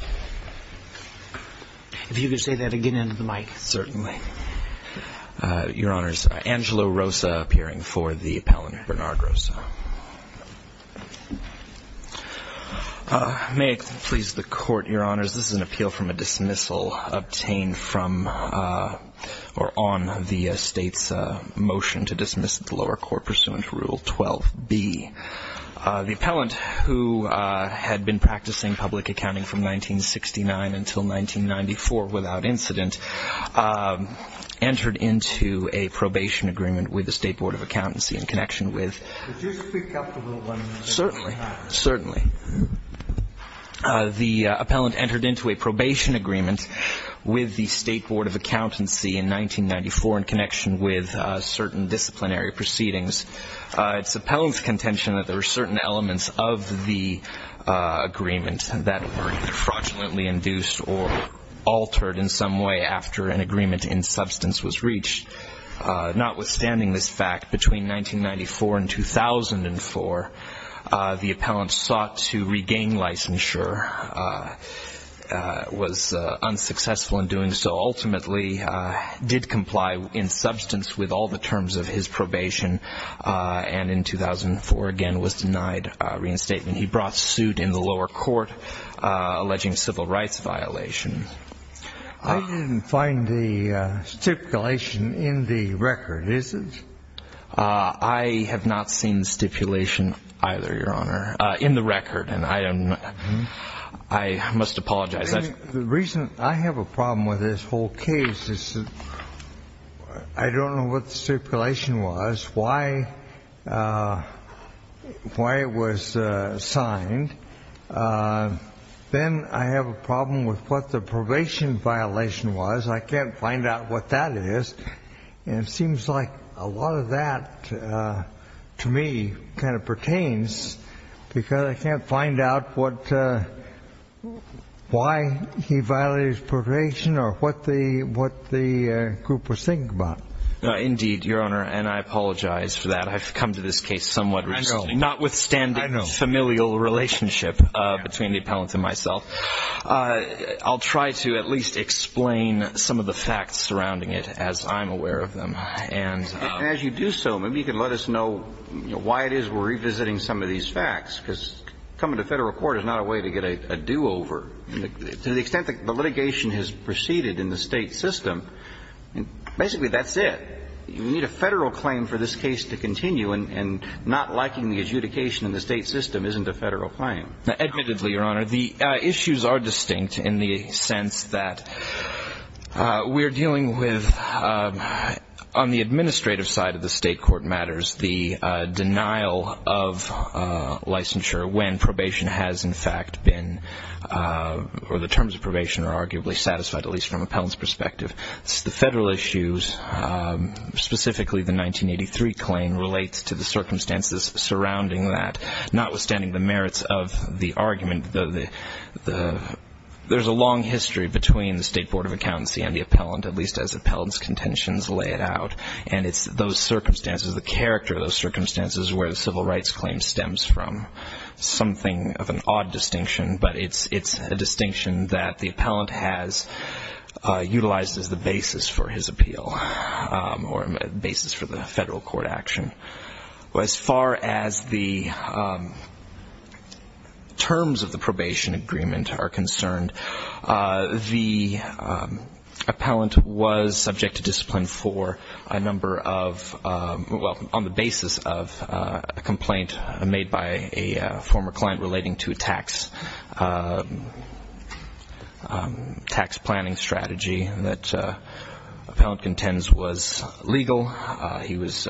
Appeal from a dismissal obtained on the State's motion to dismiss the lower court pursuant to Rule 12b. The appellant, who had been practicing public accounting from 1969 until 1994 without incident, entered into a probation agreement with the State Board of Accountancy in connection with... Could you speak up a little bit? Certainly. Certainly. The appellant entered into a probation agreement with the State contention that there were certain elements of the agreement that were either fraudulently induced or altered in some way after an agreement in substance was reached. Notwithstanding this fact, between 1994 and 2004, the appellant sought to regain licensure, was unsuccessful in doing so, ultimately did comply in substance with all the terms of his probation, and in 2004, again, was denied reinstatement. He brought suit in the lower court alleging civil rights violations. I didn't find the stipulation in the record, is it? I have not seen the stipulation either, Your Honor, in the record, and I must apologize. The reason I have a problem with this whole case is I don't know what the stipulation was, why it was signed. Then I have a problem with what the probation violation was. I can't find out what that is, and it seems like a lot of that, to me, kind of pertains to this, because I can't find out what why he violated his probation or what the group was thinking about. Indeed, Your Honor, and I apologize for that. I've come to this case somewhat recently. I know. Notwithstanding the familial relationship between the appellant and myself, I'll try to at least explain some of the facts surrounding it, as I'm aware of them, and as you do so, maybe you can let us know why it is we're revisiting some of these facts, because coming to federal court is not a way to get a do-over. To the extent that the litigation has proceeded in the state system, basically that's it. You need a federal claim for this case to continue, and not liking the adjudication in the state system isn't a federal claim. Admittedly, Your Honor, the issues are distinct in the sense that we're dealing with, on the administrative side of the state court matters, the denial of licensure when probation has in fact been, or the terms of probation are arguably satisfied, at least from appellant's perspective. The federal issues, specifically the 1983 claim, relates to the circumstances surrounding that. Notwithstanding the merits of the argument, there's a long history between the State Board of Accountancy and the appellant, at least as appellant's contentions lay it out. And it's those circumstances, the character of those circumstances, where the civil rights claim stems from. Something of an odd distinction, but it's a distinction that the appellant has utilized as the basis for his appeal, or basis for the federal court action. As far as the terms of the probation agreement are concerned, the appellant was subject to for a number of, well, on the basis of a complaint made by a former client relating to a tax planning strategy that appellant contends was legal. He was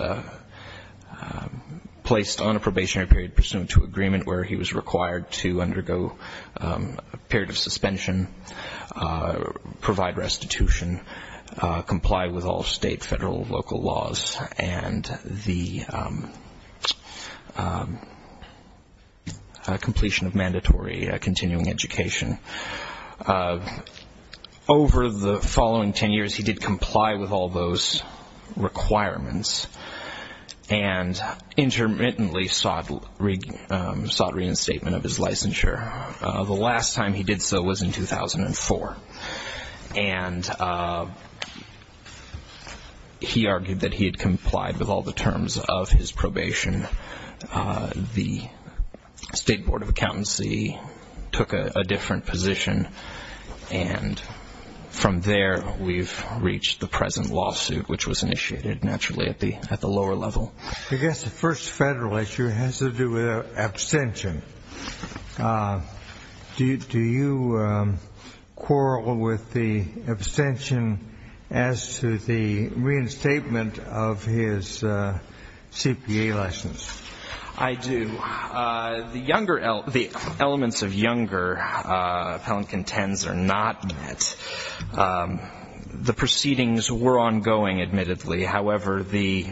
placed on a probationary period pursuant to agreement where he was required to undergo a period of suspension, provide restitution, comply with all state, federal, local laws, and the completion of mandatory continuing education. Over the following ten years, he did comply with all those requirements and intermittently sought reinstatement of his licensure. The last time he did so was in 2004. And he argued that he had complied with all the terms of his probation. The State Board of Accountancy took a different position. And from there, we've reached the present which was initiated, naturally, at the lower level. I guess the first federal issue has to do with abstention. Do you quarrel with the abstention as to the reinstatement of his CPA license? I do. The younger, the elements of younger appellant contends are not met. The proceedings were ongoing, admittedly. However, the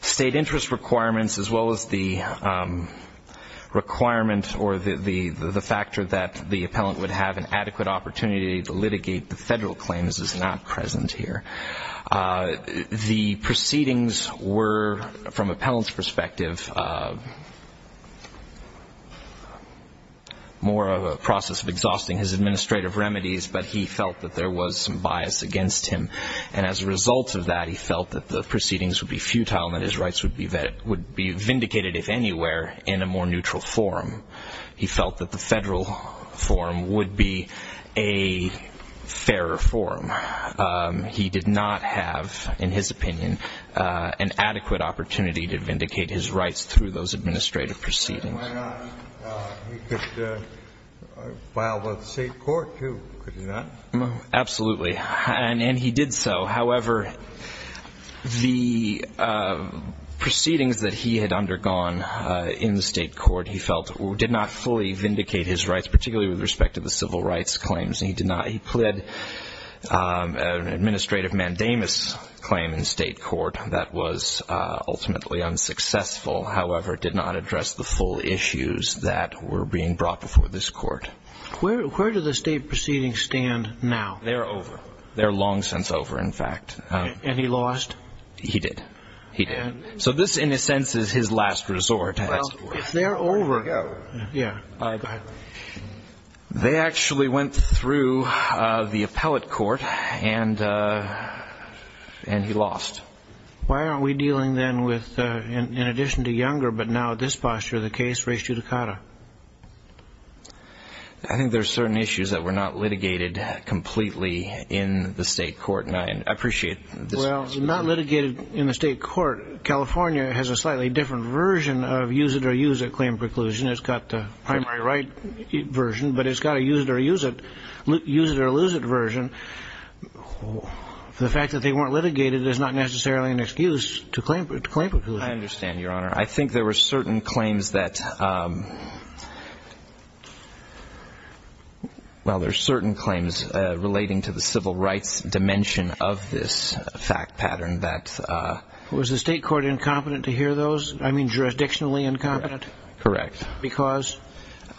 state interest requirements as well as the requirement or the factor that the appellant would have an adequate opportunity to litigate the federal claims is not present here. The proceedings were, from appellant's perspective, more of a process of exhausting his administrative remedies, but he felt that there was some that would have convinced him. And as a result of that, he felt that the proceedings would be futile and that his rights would be vindicated, if anywhere, in a more neutral forum. He felt that the federal forum would be a fairer forum. He did not have, in his opinion, an adequate opportunity to vindicate his rights through those administrative proceedings. Why not? He could file with the state court, too, could he not? Absolutely. And he did so. However, the proceedings that he had undergone in the state court, he felt, did not fully vindicate his rights, particularly with respect to the civil rights claims. He pleaded an administrative mandamus claim in state court that was ultimately unsuccessful, however, did not address the full issues that were being brought before this court. Where do the state proceedings stand now? They're over. They're long since over, in fact. And he lost? He did. He did. So this, in a sense, is his last resort. Well, if they're over... There you go. They actually went through the appellate court and he lost. Why aren't we dealing then with, in addition to Younger, but now this posture, the case of Brace Giudicata? I think there are certain issues that were not litigated completely in the state court, and I appreciate this. Well, not litigated in the state court. California has a slightly different version of use it or use it claim preclusion. It's got the primary right version, but it's got a use it or lose it version. The fact that they weren't litigated is not necessarily an excuse to claim preclusion. I understand, Your Honor. I think there were certain claims that, well, there's certain claims relating to the civil rights dimension of this fact pattern that... Was the state court incompetent to hear those? I mean, jurisdictionally incompetent? Because?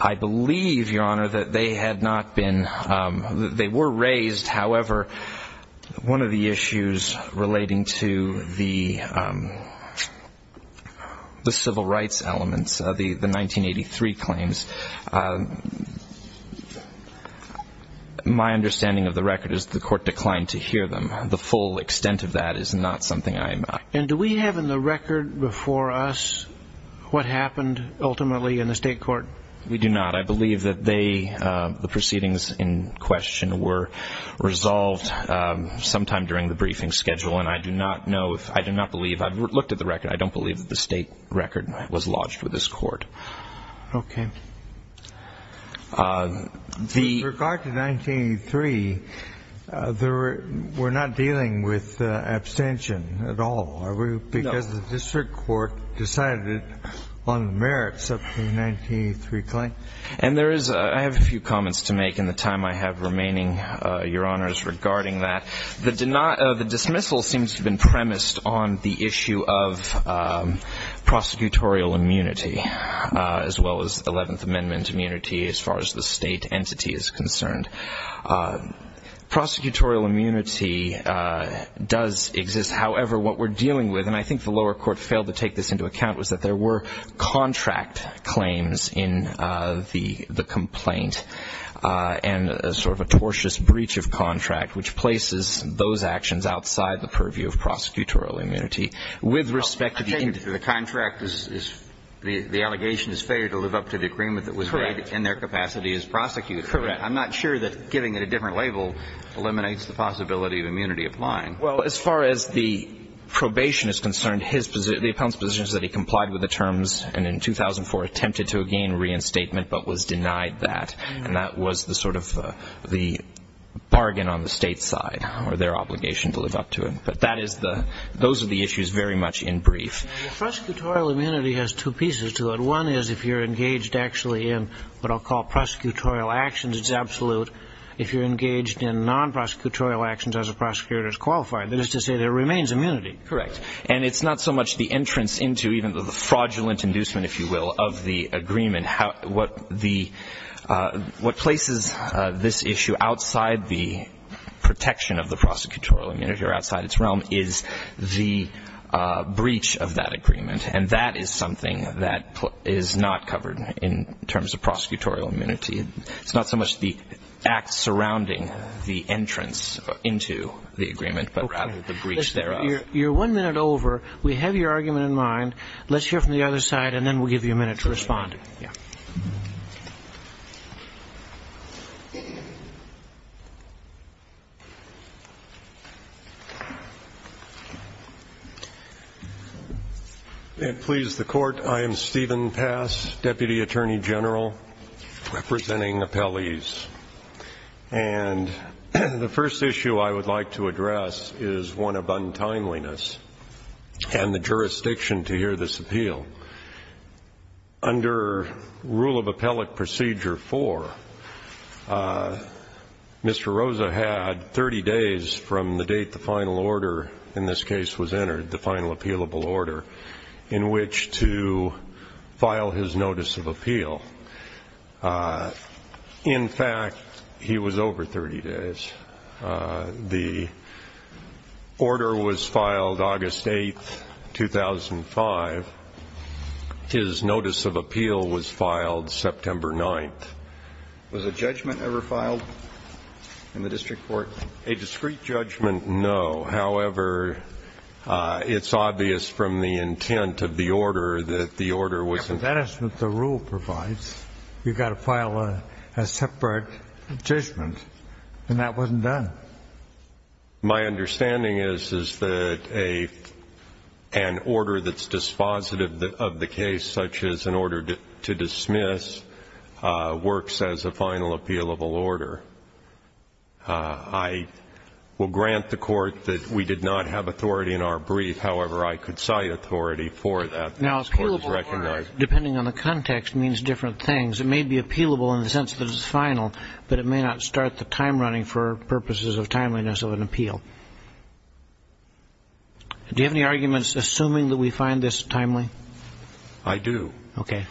I believe, Your Honor, that they had not been, they were raised. However, one of the issues relating to the civil rights elements, the 1983 claims, my understanding of the record is the court declined to hear them. The full extent of that is not something I am... And do we have in the record before us what happened ultimately in the state court? We do not. I believe that they, the proceedings in question, were resolved sometime during the briefing schedule, and I do not know if, I do not believe, I've looked at the record, I don't believe that the state record was lodged with this court. Okay. In regard to 1983, there were, we're not dealing with abstention at all, are we? Because the district court decided it on the merits of the 1983 claim. And there is, I have a few comments to make in the time I have remaining, Your Honor, regarding that. The dismissal seems to have been premised on the issue of prosecutorial immunity, as well as 11th Amendment immunity, as far as the state entity is concerned. Prosecutorial immunity does exist. However, what we're dealing with, and I think the lower court failed to take this into account, was that there were contract claims in the complaint, and sort of a tortious breach of contract, which places those actions outside the purview of prosecutorial immunity. With respect to the end of the contract, the allegation is failure to live up to the agreement that was made in their capacity as prosecutors. Correct. I'm not sure that giving it a different label eliminates the possibility of immunity applying. Well, as far as the probation is concerned, the appellant's position is that he complied with the terms, and in 2004 attempted to regain reinstatement, but was denied that. And that was the sort of the bargain on the state's side, or their obligation to live up to it. But that is the, those are the issues very much in brief. Prosecutorial immunity has two pieces to it. One is if you're engaged actually in what I'll call prosecutorial actions, it's absolute. If you're engaged in non-prosecutorial actions as a prosecutor's qualified, that is to say there remains immunity. Correct. And it's not so much the entrance into, even though the fraudulent inducement, if you will, of the agreement, how, what the, what places this issue outside the protection of the prosecutorial immunity or outside its realm is the breach of that agreement. And that is something that is not covered in terms of prosecutorial immunity. It's not so much the act surrounding the entrance into the agreement, but rather the breach thereof. You're one minute over. We have your argument in mind. Let's hear from the other side, and then we'll give you a minute to respond. And please, the Court, I am Stephen Pass, Deputy Attorney General, representing appellees. And the first issue I would like to address is one of untimeliness and the jurisdiction to hear this appeal. Under rule of appellate procedure four, Mr. Rosa had 30 days from the date the final order in this case was entered, the final In fact, he was over 30 days. The order was filed August 8th, 2005. His notice of appeal was filed September 9th. Was a judgment ever filed in the district court? A discrete judgment? No. However, it's obvious from the intent of the order that the order wasn't. That's what the rule provides. You've got to file a separate judgment. And that wasn't done. My understanding is, is that an order that's dispositive of the case, such as an order to dismiss, works as a final appealable order. I will grant the Court that we did not have authority in our brief. However, I could cite authority for that. Appealable order, depending on the context, means different things. It may be appealable in the sense that it's final, but it may not start the time running for purposes of timeliness of an appeal. Do you have any arguments assuming that we find this timely? I do. Okay.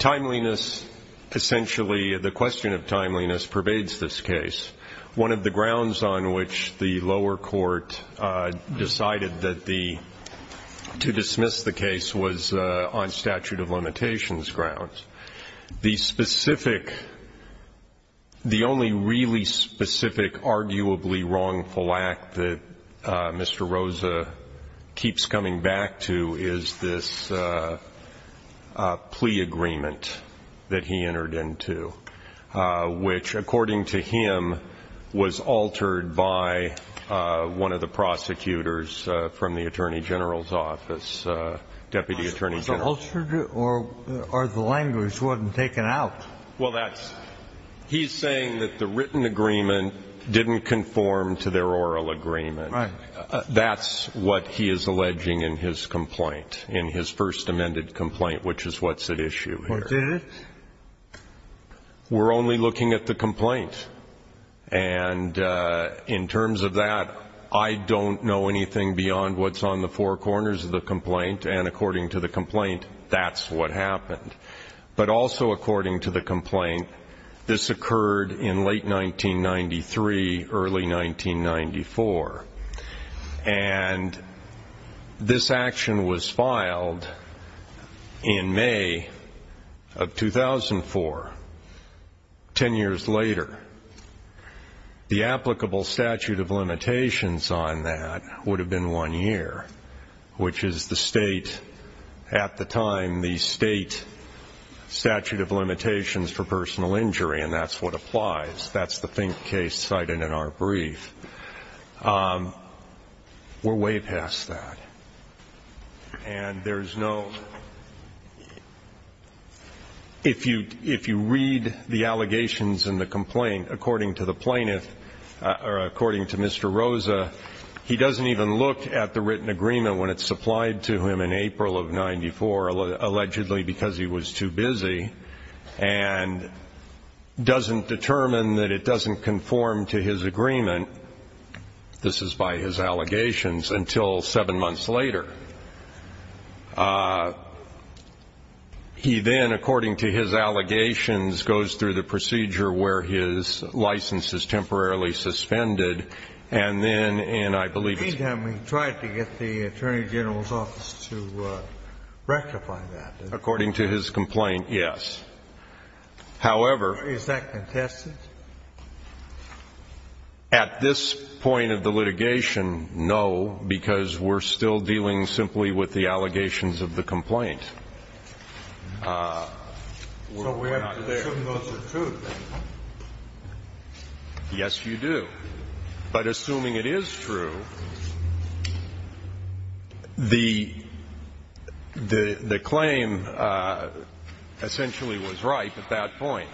Timeliness, essentially, the question of timeliness, pervades this case. One of the grounds on which the lower case was on statute of limitations grounds. The specific, the only really specific arguably wrongful act that Mr. Rosa keeps coming back to is this plea agreement that he entered into, which, according to him, was altered by one of the prosecutors from the Attorney General's office. Deputy Attorney General. Was it altered, or the language wasn't taken out? Well, that's, he's saying that the written agreement didn't conform to their oral agreement. Right. That's what he is alleging in his complaint, in his first amended complaint, which is what's at issue here. Or did it? We're only looking at the complaint. And in terms of that, I don't know anything beyond what's on the four corners of the complaint. And according to the complaint, that's what happened. But also according to the complaint, this occurred in late 1993, early 1994. And this action was filed in May of 2004, 10 years later. The applicable statute of limitations on that would have been one year, which is the state, at the time, the state statute of limitations for personal injury. And that's what applies. That's the case cited in our brief. We're way past that. And there's no, if you read the allegations in the complaint, according to plaintiff, or according to Mr. Rosa, he doesn't even look at the written agreement when it's supplied to him in April of 94, allegedly because he was too busy, and doesn't determine that it doesn't conform to his agreement. This is by his allegations until seven months later. He then, according to his allegations, goes through the procedure where his license is temporarily suspended. And then, and I believe it's- At any time, we tried to get the Attorney General's office to rectify that. According to his complaint, yes. However- Is that contested? At this point of the litigation, no, because we're still dealing simply with the allegations of the complaint. So we have to assume those are true, then? Yes, you do. But assuming it is true, the claim essentially was right at that point.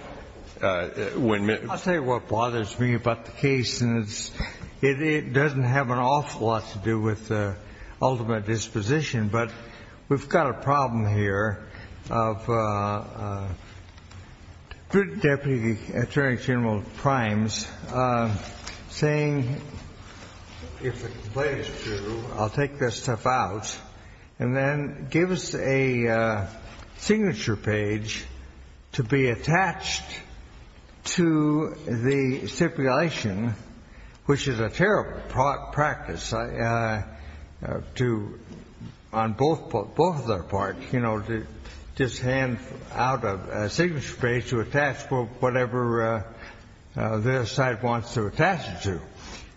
I'll tell you what bothers me about the case, and it doesn't have an awful lot to do with the ultimate disposition, but we've got a problem here of the Deputy Attorney General Primes saying, if the complaint is true, I'll take this stuff out, and then give us a signature page to be attached to the stipulation, which is a terrible practice to, on both of their hands, out a signature page to attach whatever their side wants to attach it to.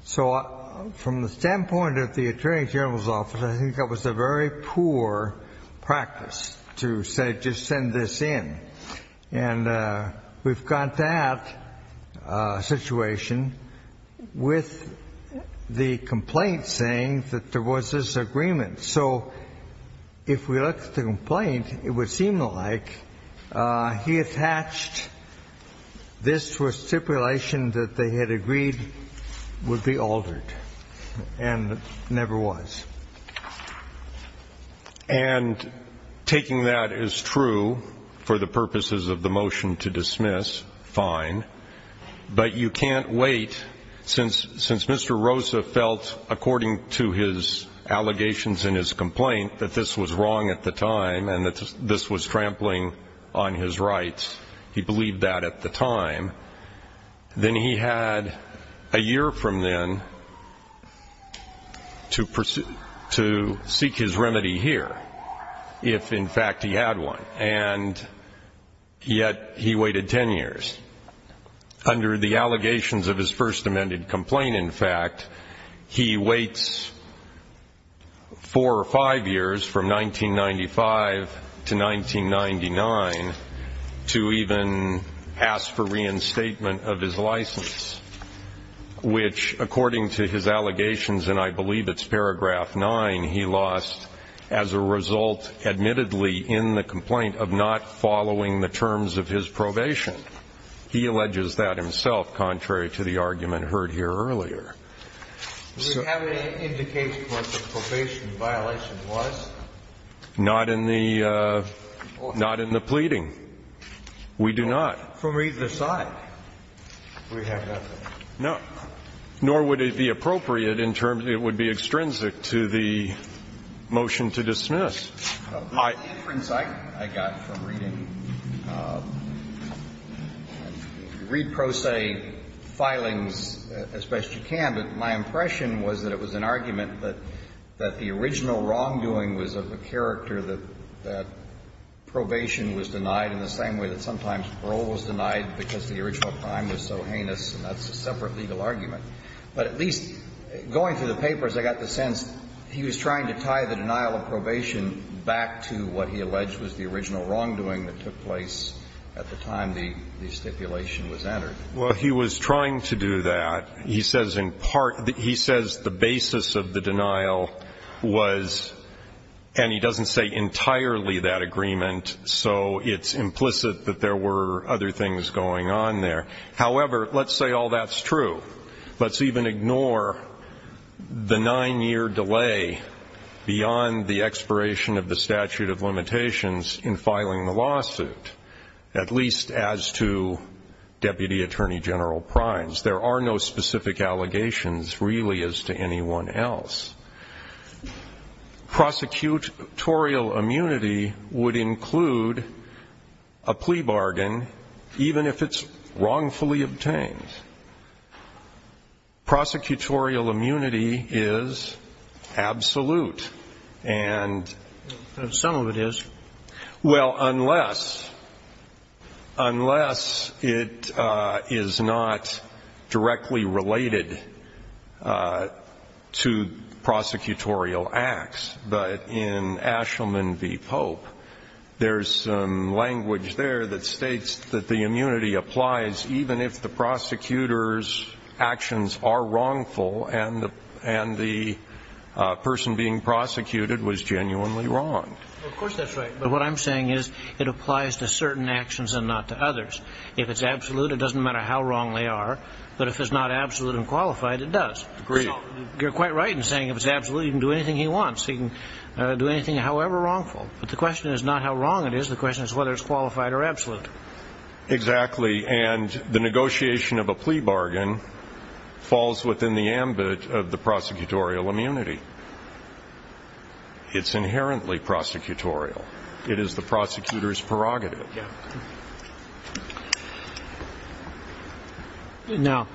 So from the standpoint of the Attorney General's office, I think that was a very poor practice to say, just send this in. And we've got that situation with the complaint saying that there was this agreement. So if we looked at the complaint, it would seem like he attached this to a stipulation that they had agreed would be altered, and never was. And taking that as true for the purposes of the motion to dismiss, fine. But you can't wait since Mr. Rosa felt, according to his allegations and his complaint, that this was wrong at the time, and that this was trampling on his rights. He believed that at the time. Then he had a year from then to seek his remedy here, if in fact he had one. And yet he waited 10 years. Under the allegations of his first amended complaint, in fact, he waits four or five years from 1995 to 1999 to even ask for reinstatement of his license, which according to his allegations, and I believe it's paragraph 9, he lost as a result, admittedly, in the complaint of not following the terms of his probation. He alleges that himself, contrary to the argument heard here earlier. Do we have any indication of what the probation violation was? Not in the pleading. We do not. From either side, we have nothing. No. Nor would it be appropriate in terms, it would be extrinsic to the motion to dismiss. My inference I got from reading, read pro se filings as best you can, but my impression was that it was an argument that the original wrongdoing was of the character that probation was denied in the same way that sometimes parole was denied because the original crime was so heinous, and that's a separate legal argument. But at least going through the papers, I got the sense he was trying to tie the denial of probation back to what he alleged was the original wrongdoing that took place at the time the stipulation was entered. Well, he was trying to do that. He says in part, he says the basis of the denial was, and he doesn't say entirely that agreement, so it's implicit that there were other things going on there. However, let's say all that's true. Let's even ignore the nine-year delay beyond the expiration of the statute of limitations in filing the lawsuit, at least as to Deputy Attorney General Primes. There are no specific allegations really as to anyone else. Prosecutorial immunity would include a plea bargain even if it's wrongfully obtained. Prosecutorial immunity is absolute. And some of it is. Well, unless it is not directly related to prosecutorial acts, but in Ashelman v. Pope, there's language there that states that the immunity applies even if the prosecutor's actions are wrongful and the person being prosecuted was genuinely wrong. Of course, that's right. But what I'm saying is it applies to certain actions and not to others. If it's absolute, it doesn't matter how wrong they are. But if it's not absolute and qualified, it does. You're quite right in saying if it's absolute, you can do anything he wants. You can do anything however wrongful. But the question is not how wrong it is. The question is whether it's qualified or absolute. Exactly. And the negotiation of a plea bargain falls within the ambit of the prosecutorial immunity. It's inherently prosecutorial. It is the prosecutor's prerogative. Now,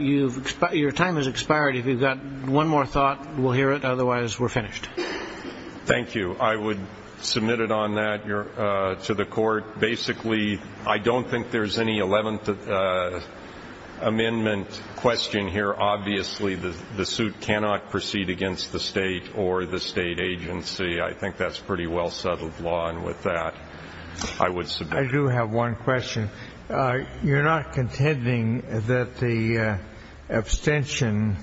your time has expired. If you've got one more thought, we'll hear it. Otherwise, we're finished. Thank you. I would submit it on that to the court. Basically, I don't think there's any 11th Amendment question here. Obviously, the suit cannot proceed against the state or the state agency. I think that's pretty well settled law. And with that, I would submit. I do have one question. You're not contending that the abstention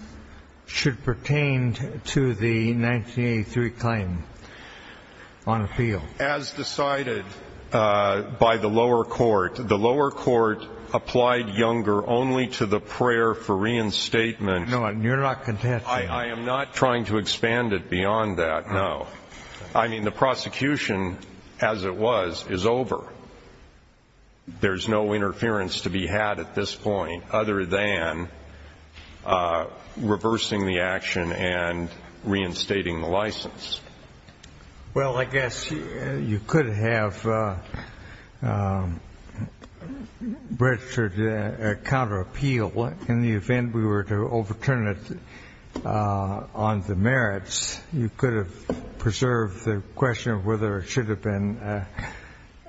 should pertain to the 1983 claim on appeal? As decided by the lower court. The lower court applied Younger only to the prayer for reinstatement. No, you're not contending. I am not trying to expand it beyond that. No. I mean, the prosecution, as it was, is over. There's no interference to be had at this point other than reversing the action and reinstating the license. Well, I guess you could have registered a counter appeal in the event we were to overturn it on the merits. You could have preserved the question of whether it should have been a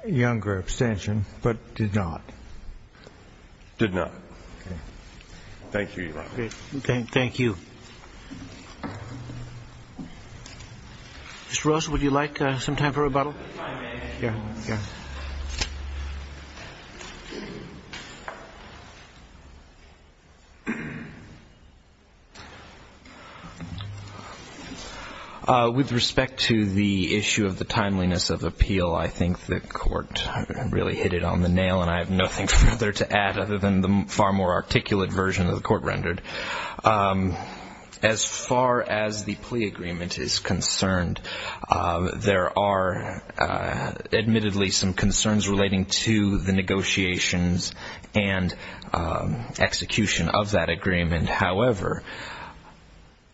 Younger abstention, but did not. Did not. Thank you. Thank you. Mr. Russell, would you like some time for rebuttal? With respect to the issue of the timeliness of appeal, I think the court really hit it on the nail, and I have nothing further to add other than the far more articulate version of the court rendered. As far as the plea agreement is concerned, there are admittedly some concerns relating to the negotiations and execution of that agreement. However,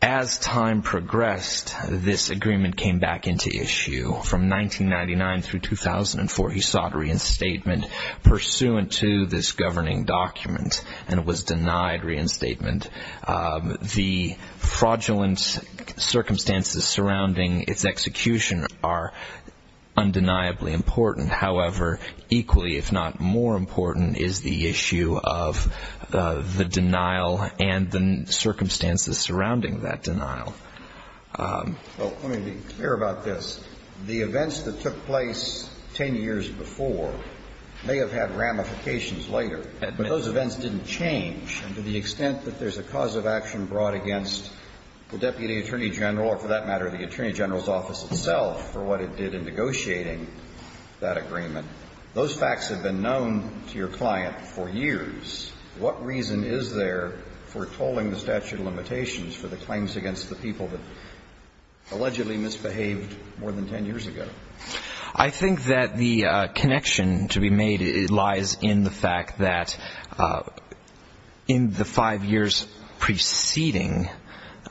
as time progressed, this agreement came back into issue. From 1999 through 2004, he sought reinstatement pursuant to this governing document and was denied reinstatement. The fraudulent circumstances surrounding its execution are undeniably important. However, equally, if not more important, is the issue of the denial and the circumstances surrounding that denial. Well, let me be clear about this. The events that took place 10 years before may have had ramifications later, but those events didn't change. And to the extent that there's a cause of action brought against the Deputy Attorney General or, for that matter, the Attorney General's Office itself for what it did in Those facts have been known to your client for years. What reason is there for tolling the statute of limitations for the claims against the people that allegedly misbehaved more than 10 years ago? I think that the connection to be made lies in the fact that in the five years preceding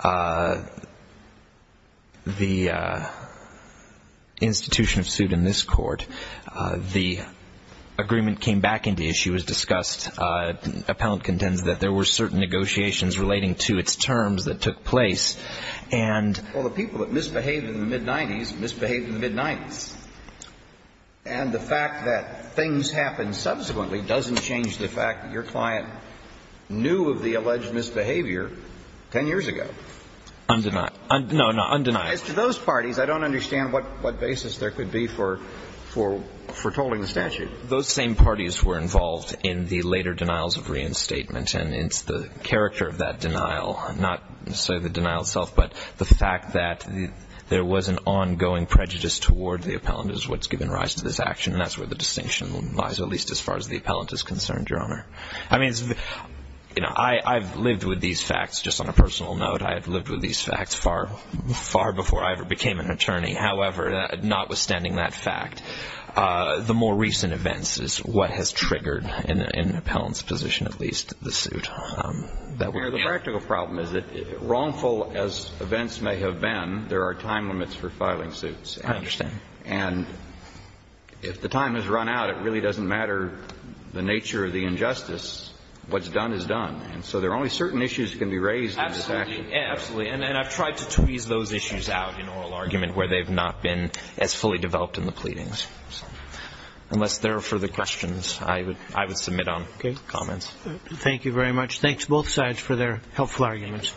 the institution of suit in this court, the agreement came back into issue as discussed. Appellant contends that there were certain negotiations relating to its terms that took place and... Well, the people that misbehaved in the mid-90s misbehaved in the mid-90s. And the fact that things happened subsequently doesn't change the fact that your client knew of the alleged misbehavior 10 years ago. Undeniable. No, no, undeniable. As to those parties, I don't understand what basis there could be for tolling the statute. Those same parties were involved in the later denials of reinstatement. And it's the character of that denial, not necessarily the denial itself, but the fact that there was an ongoing prejudice toward the appellant is what's given rise to this action. And that's where the distinction lies, at least as far as the appellant is concerned, Your Honor. I mean, I've lived with these facts, just on a personal note. I've lived with these facts far, far before I ever became an attorney. However, notwithstanding that fact, the more recent events is what has triggered, in the appellant's position at least, the suit. The practical problem is that, wrongful as events may have been, there are time limits for filing suits. I understand. And if the time has run out, it really doesn't matter the nature of the injustice. What's done is done. And so there are only certain issues that can be raised in this action. Absolutely. And I've tried to tweeze those issues out in oral argument where they've not been as fully developed in the pleadings. Unless there are further questions, I would submit on comments. Thank you very much. Thanks, both sides, for their helpful arguments.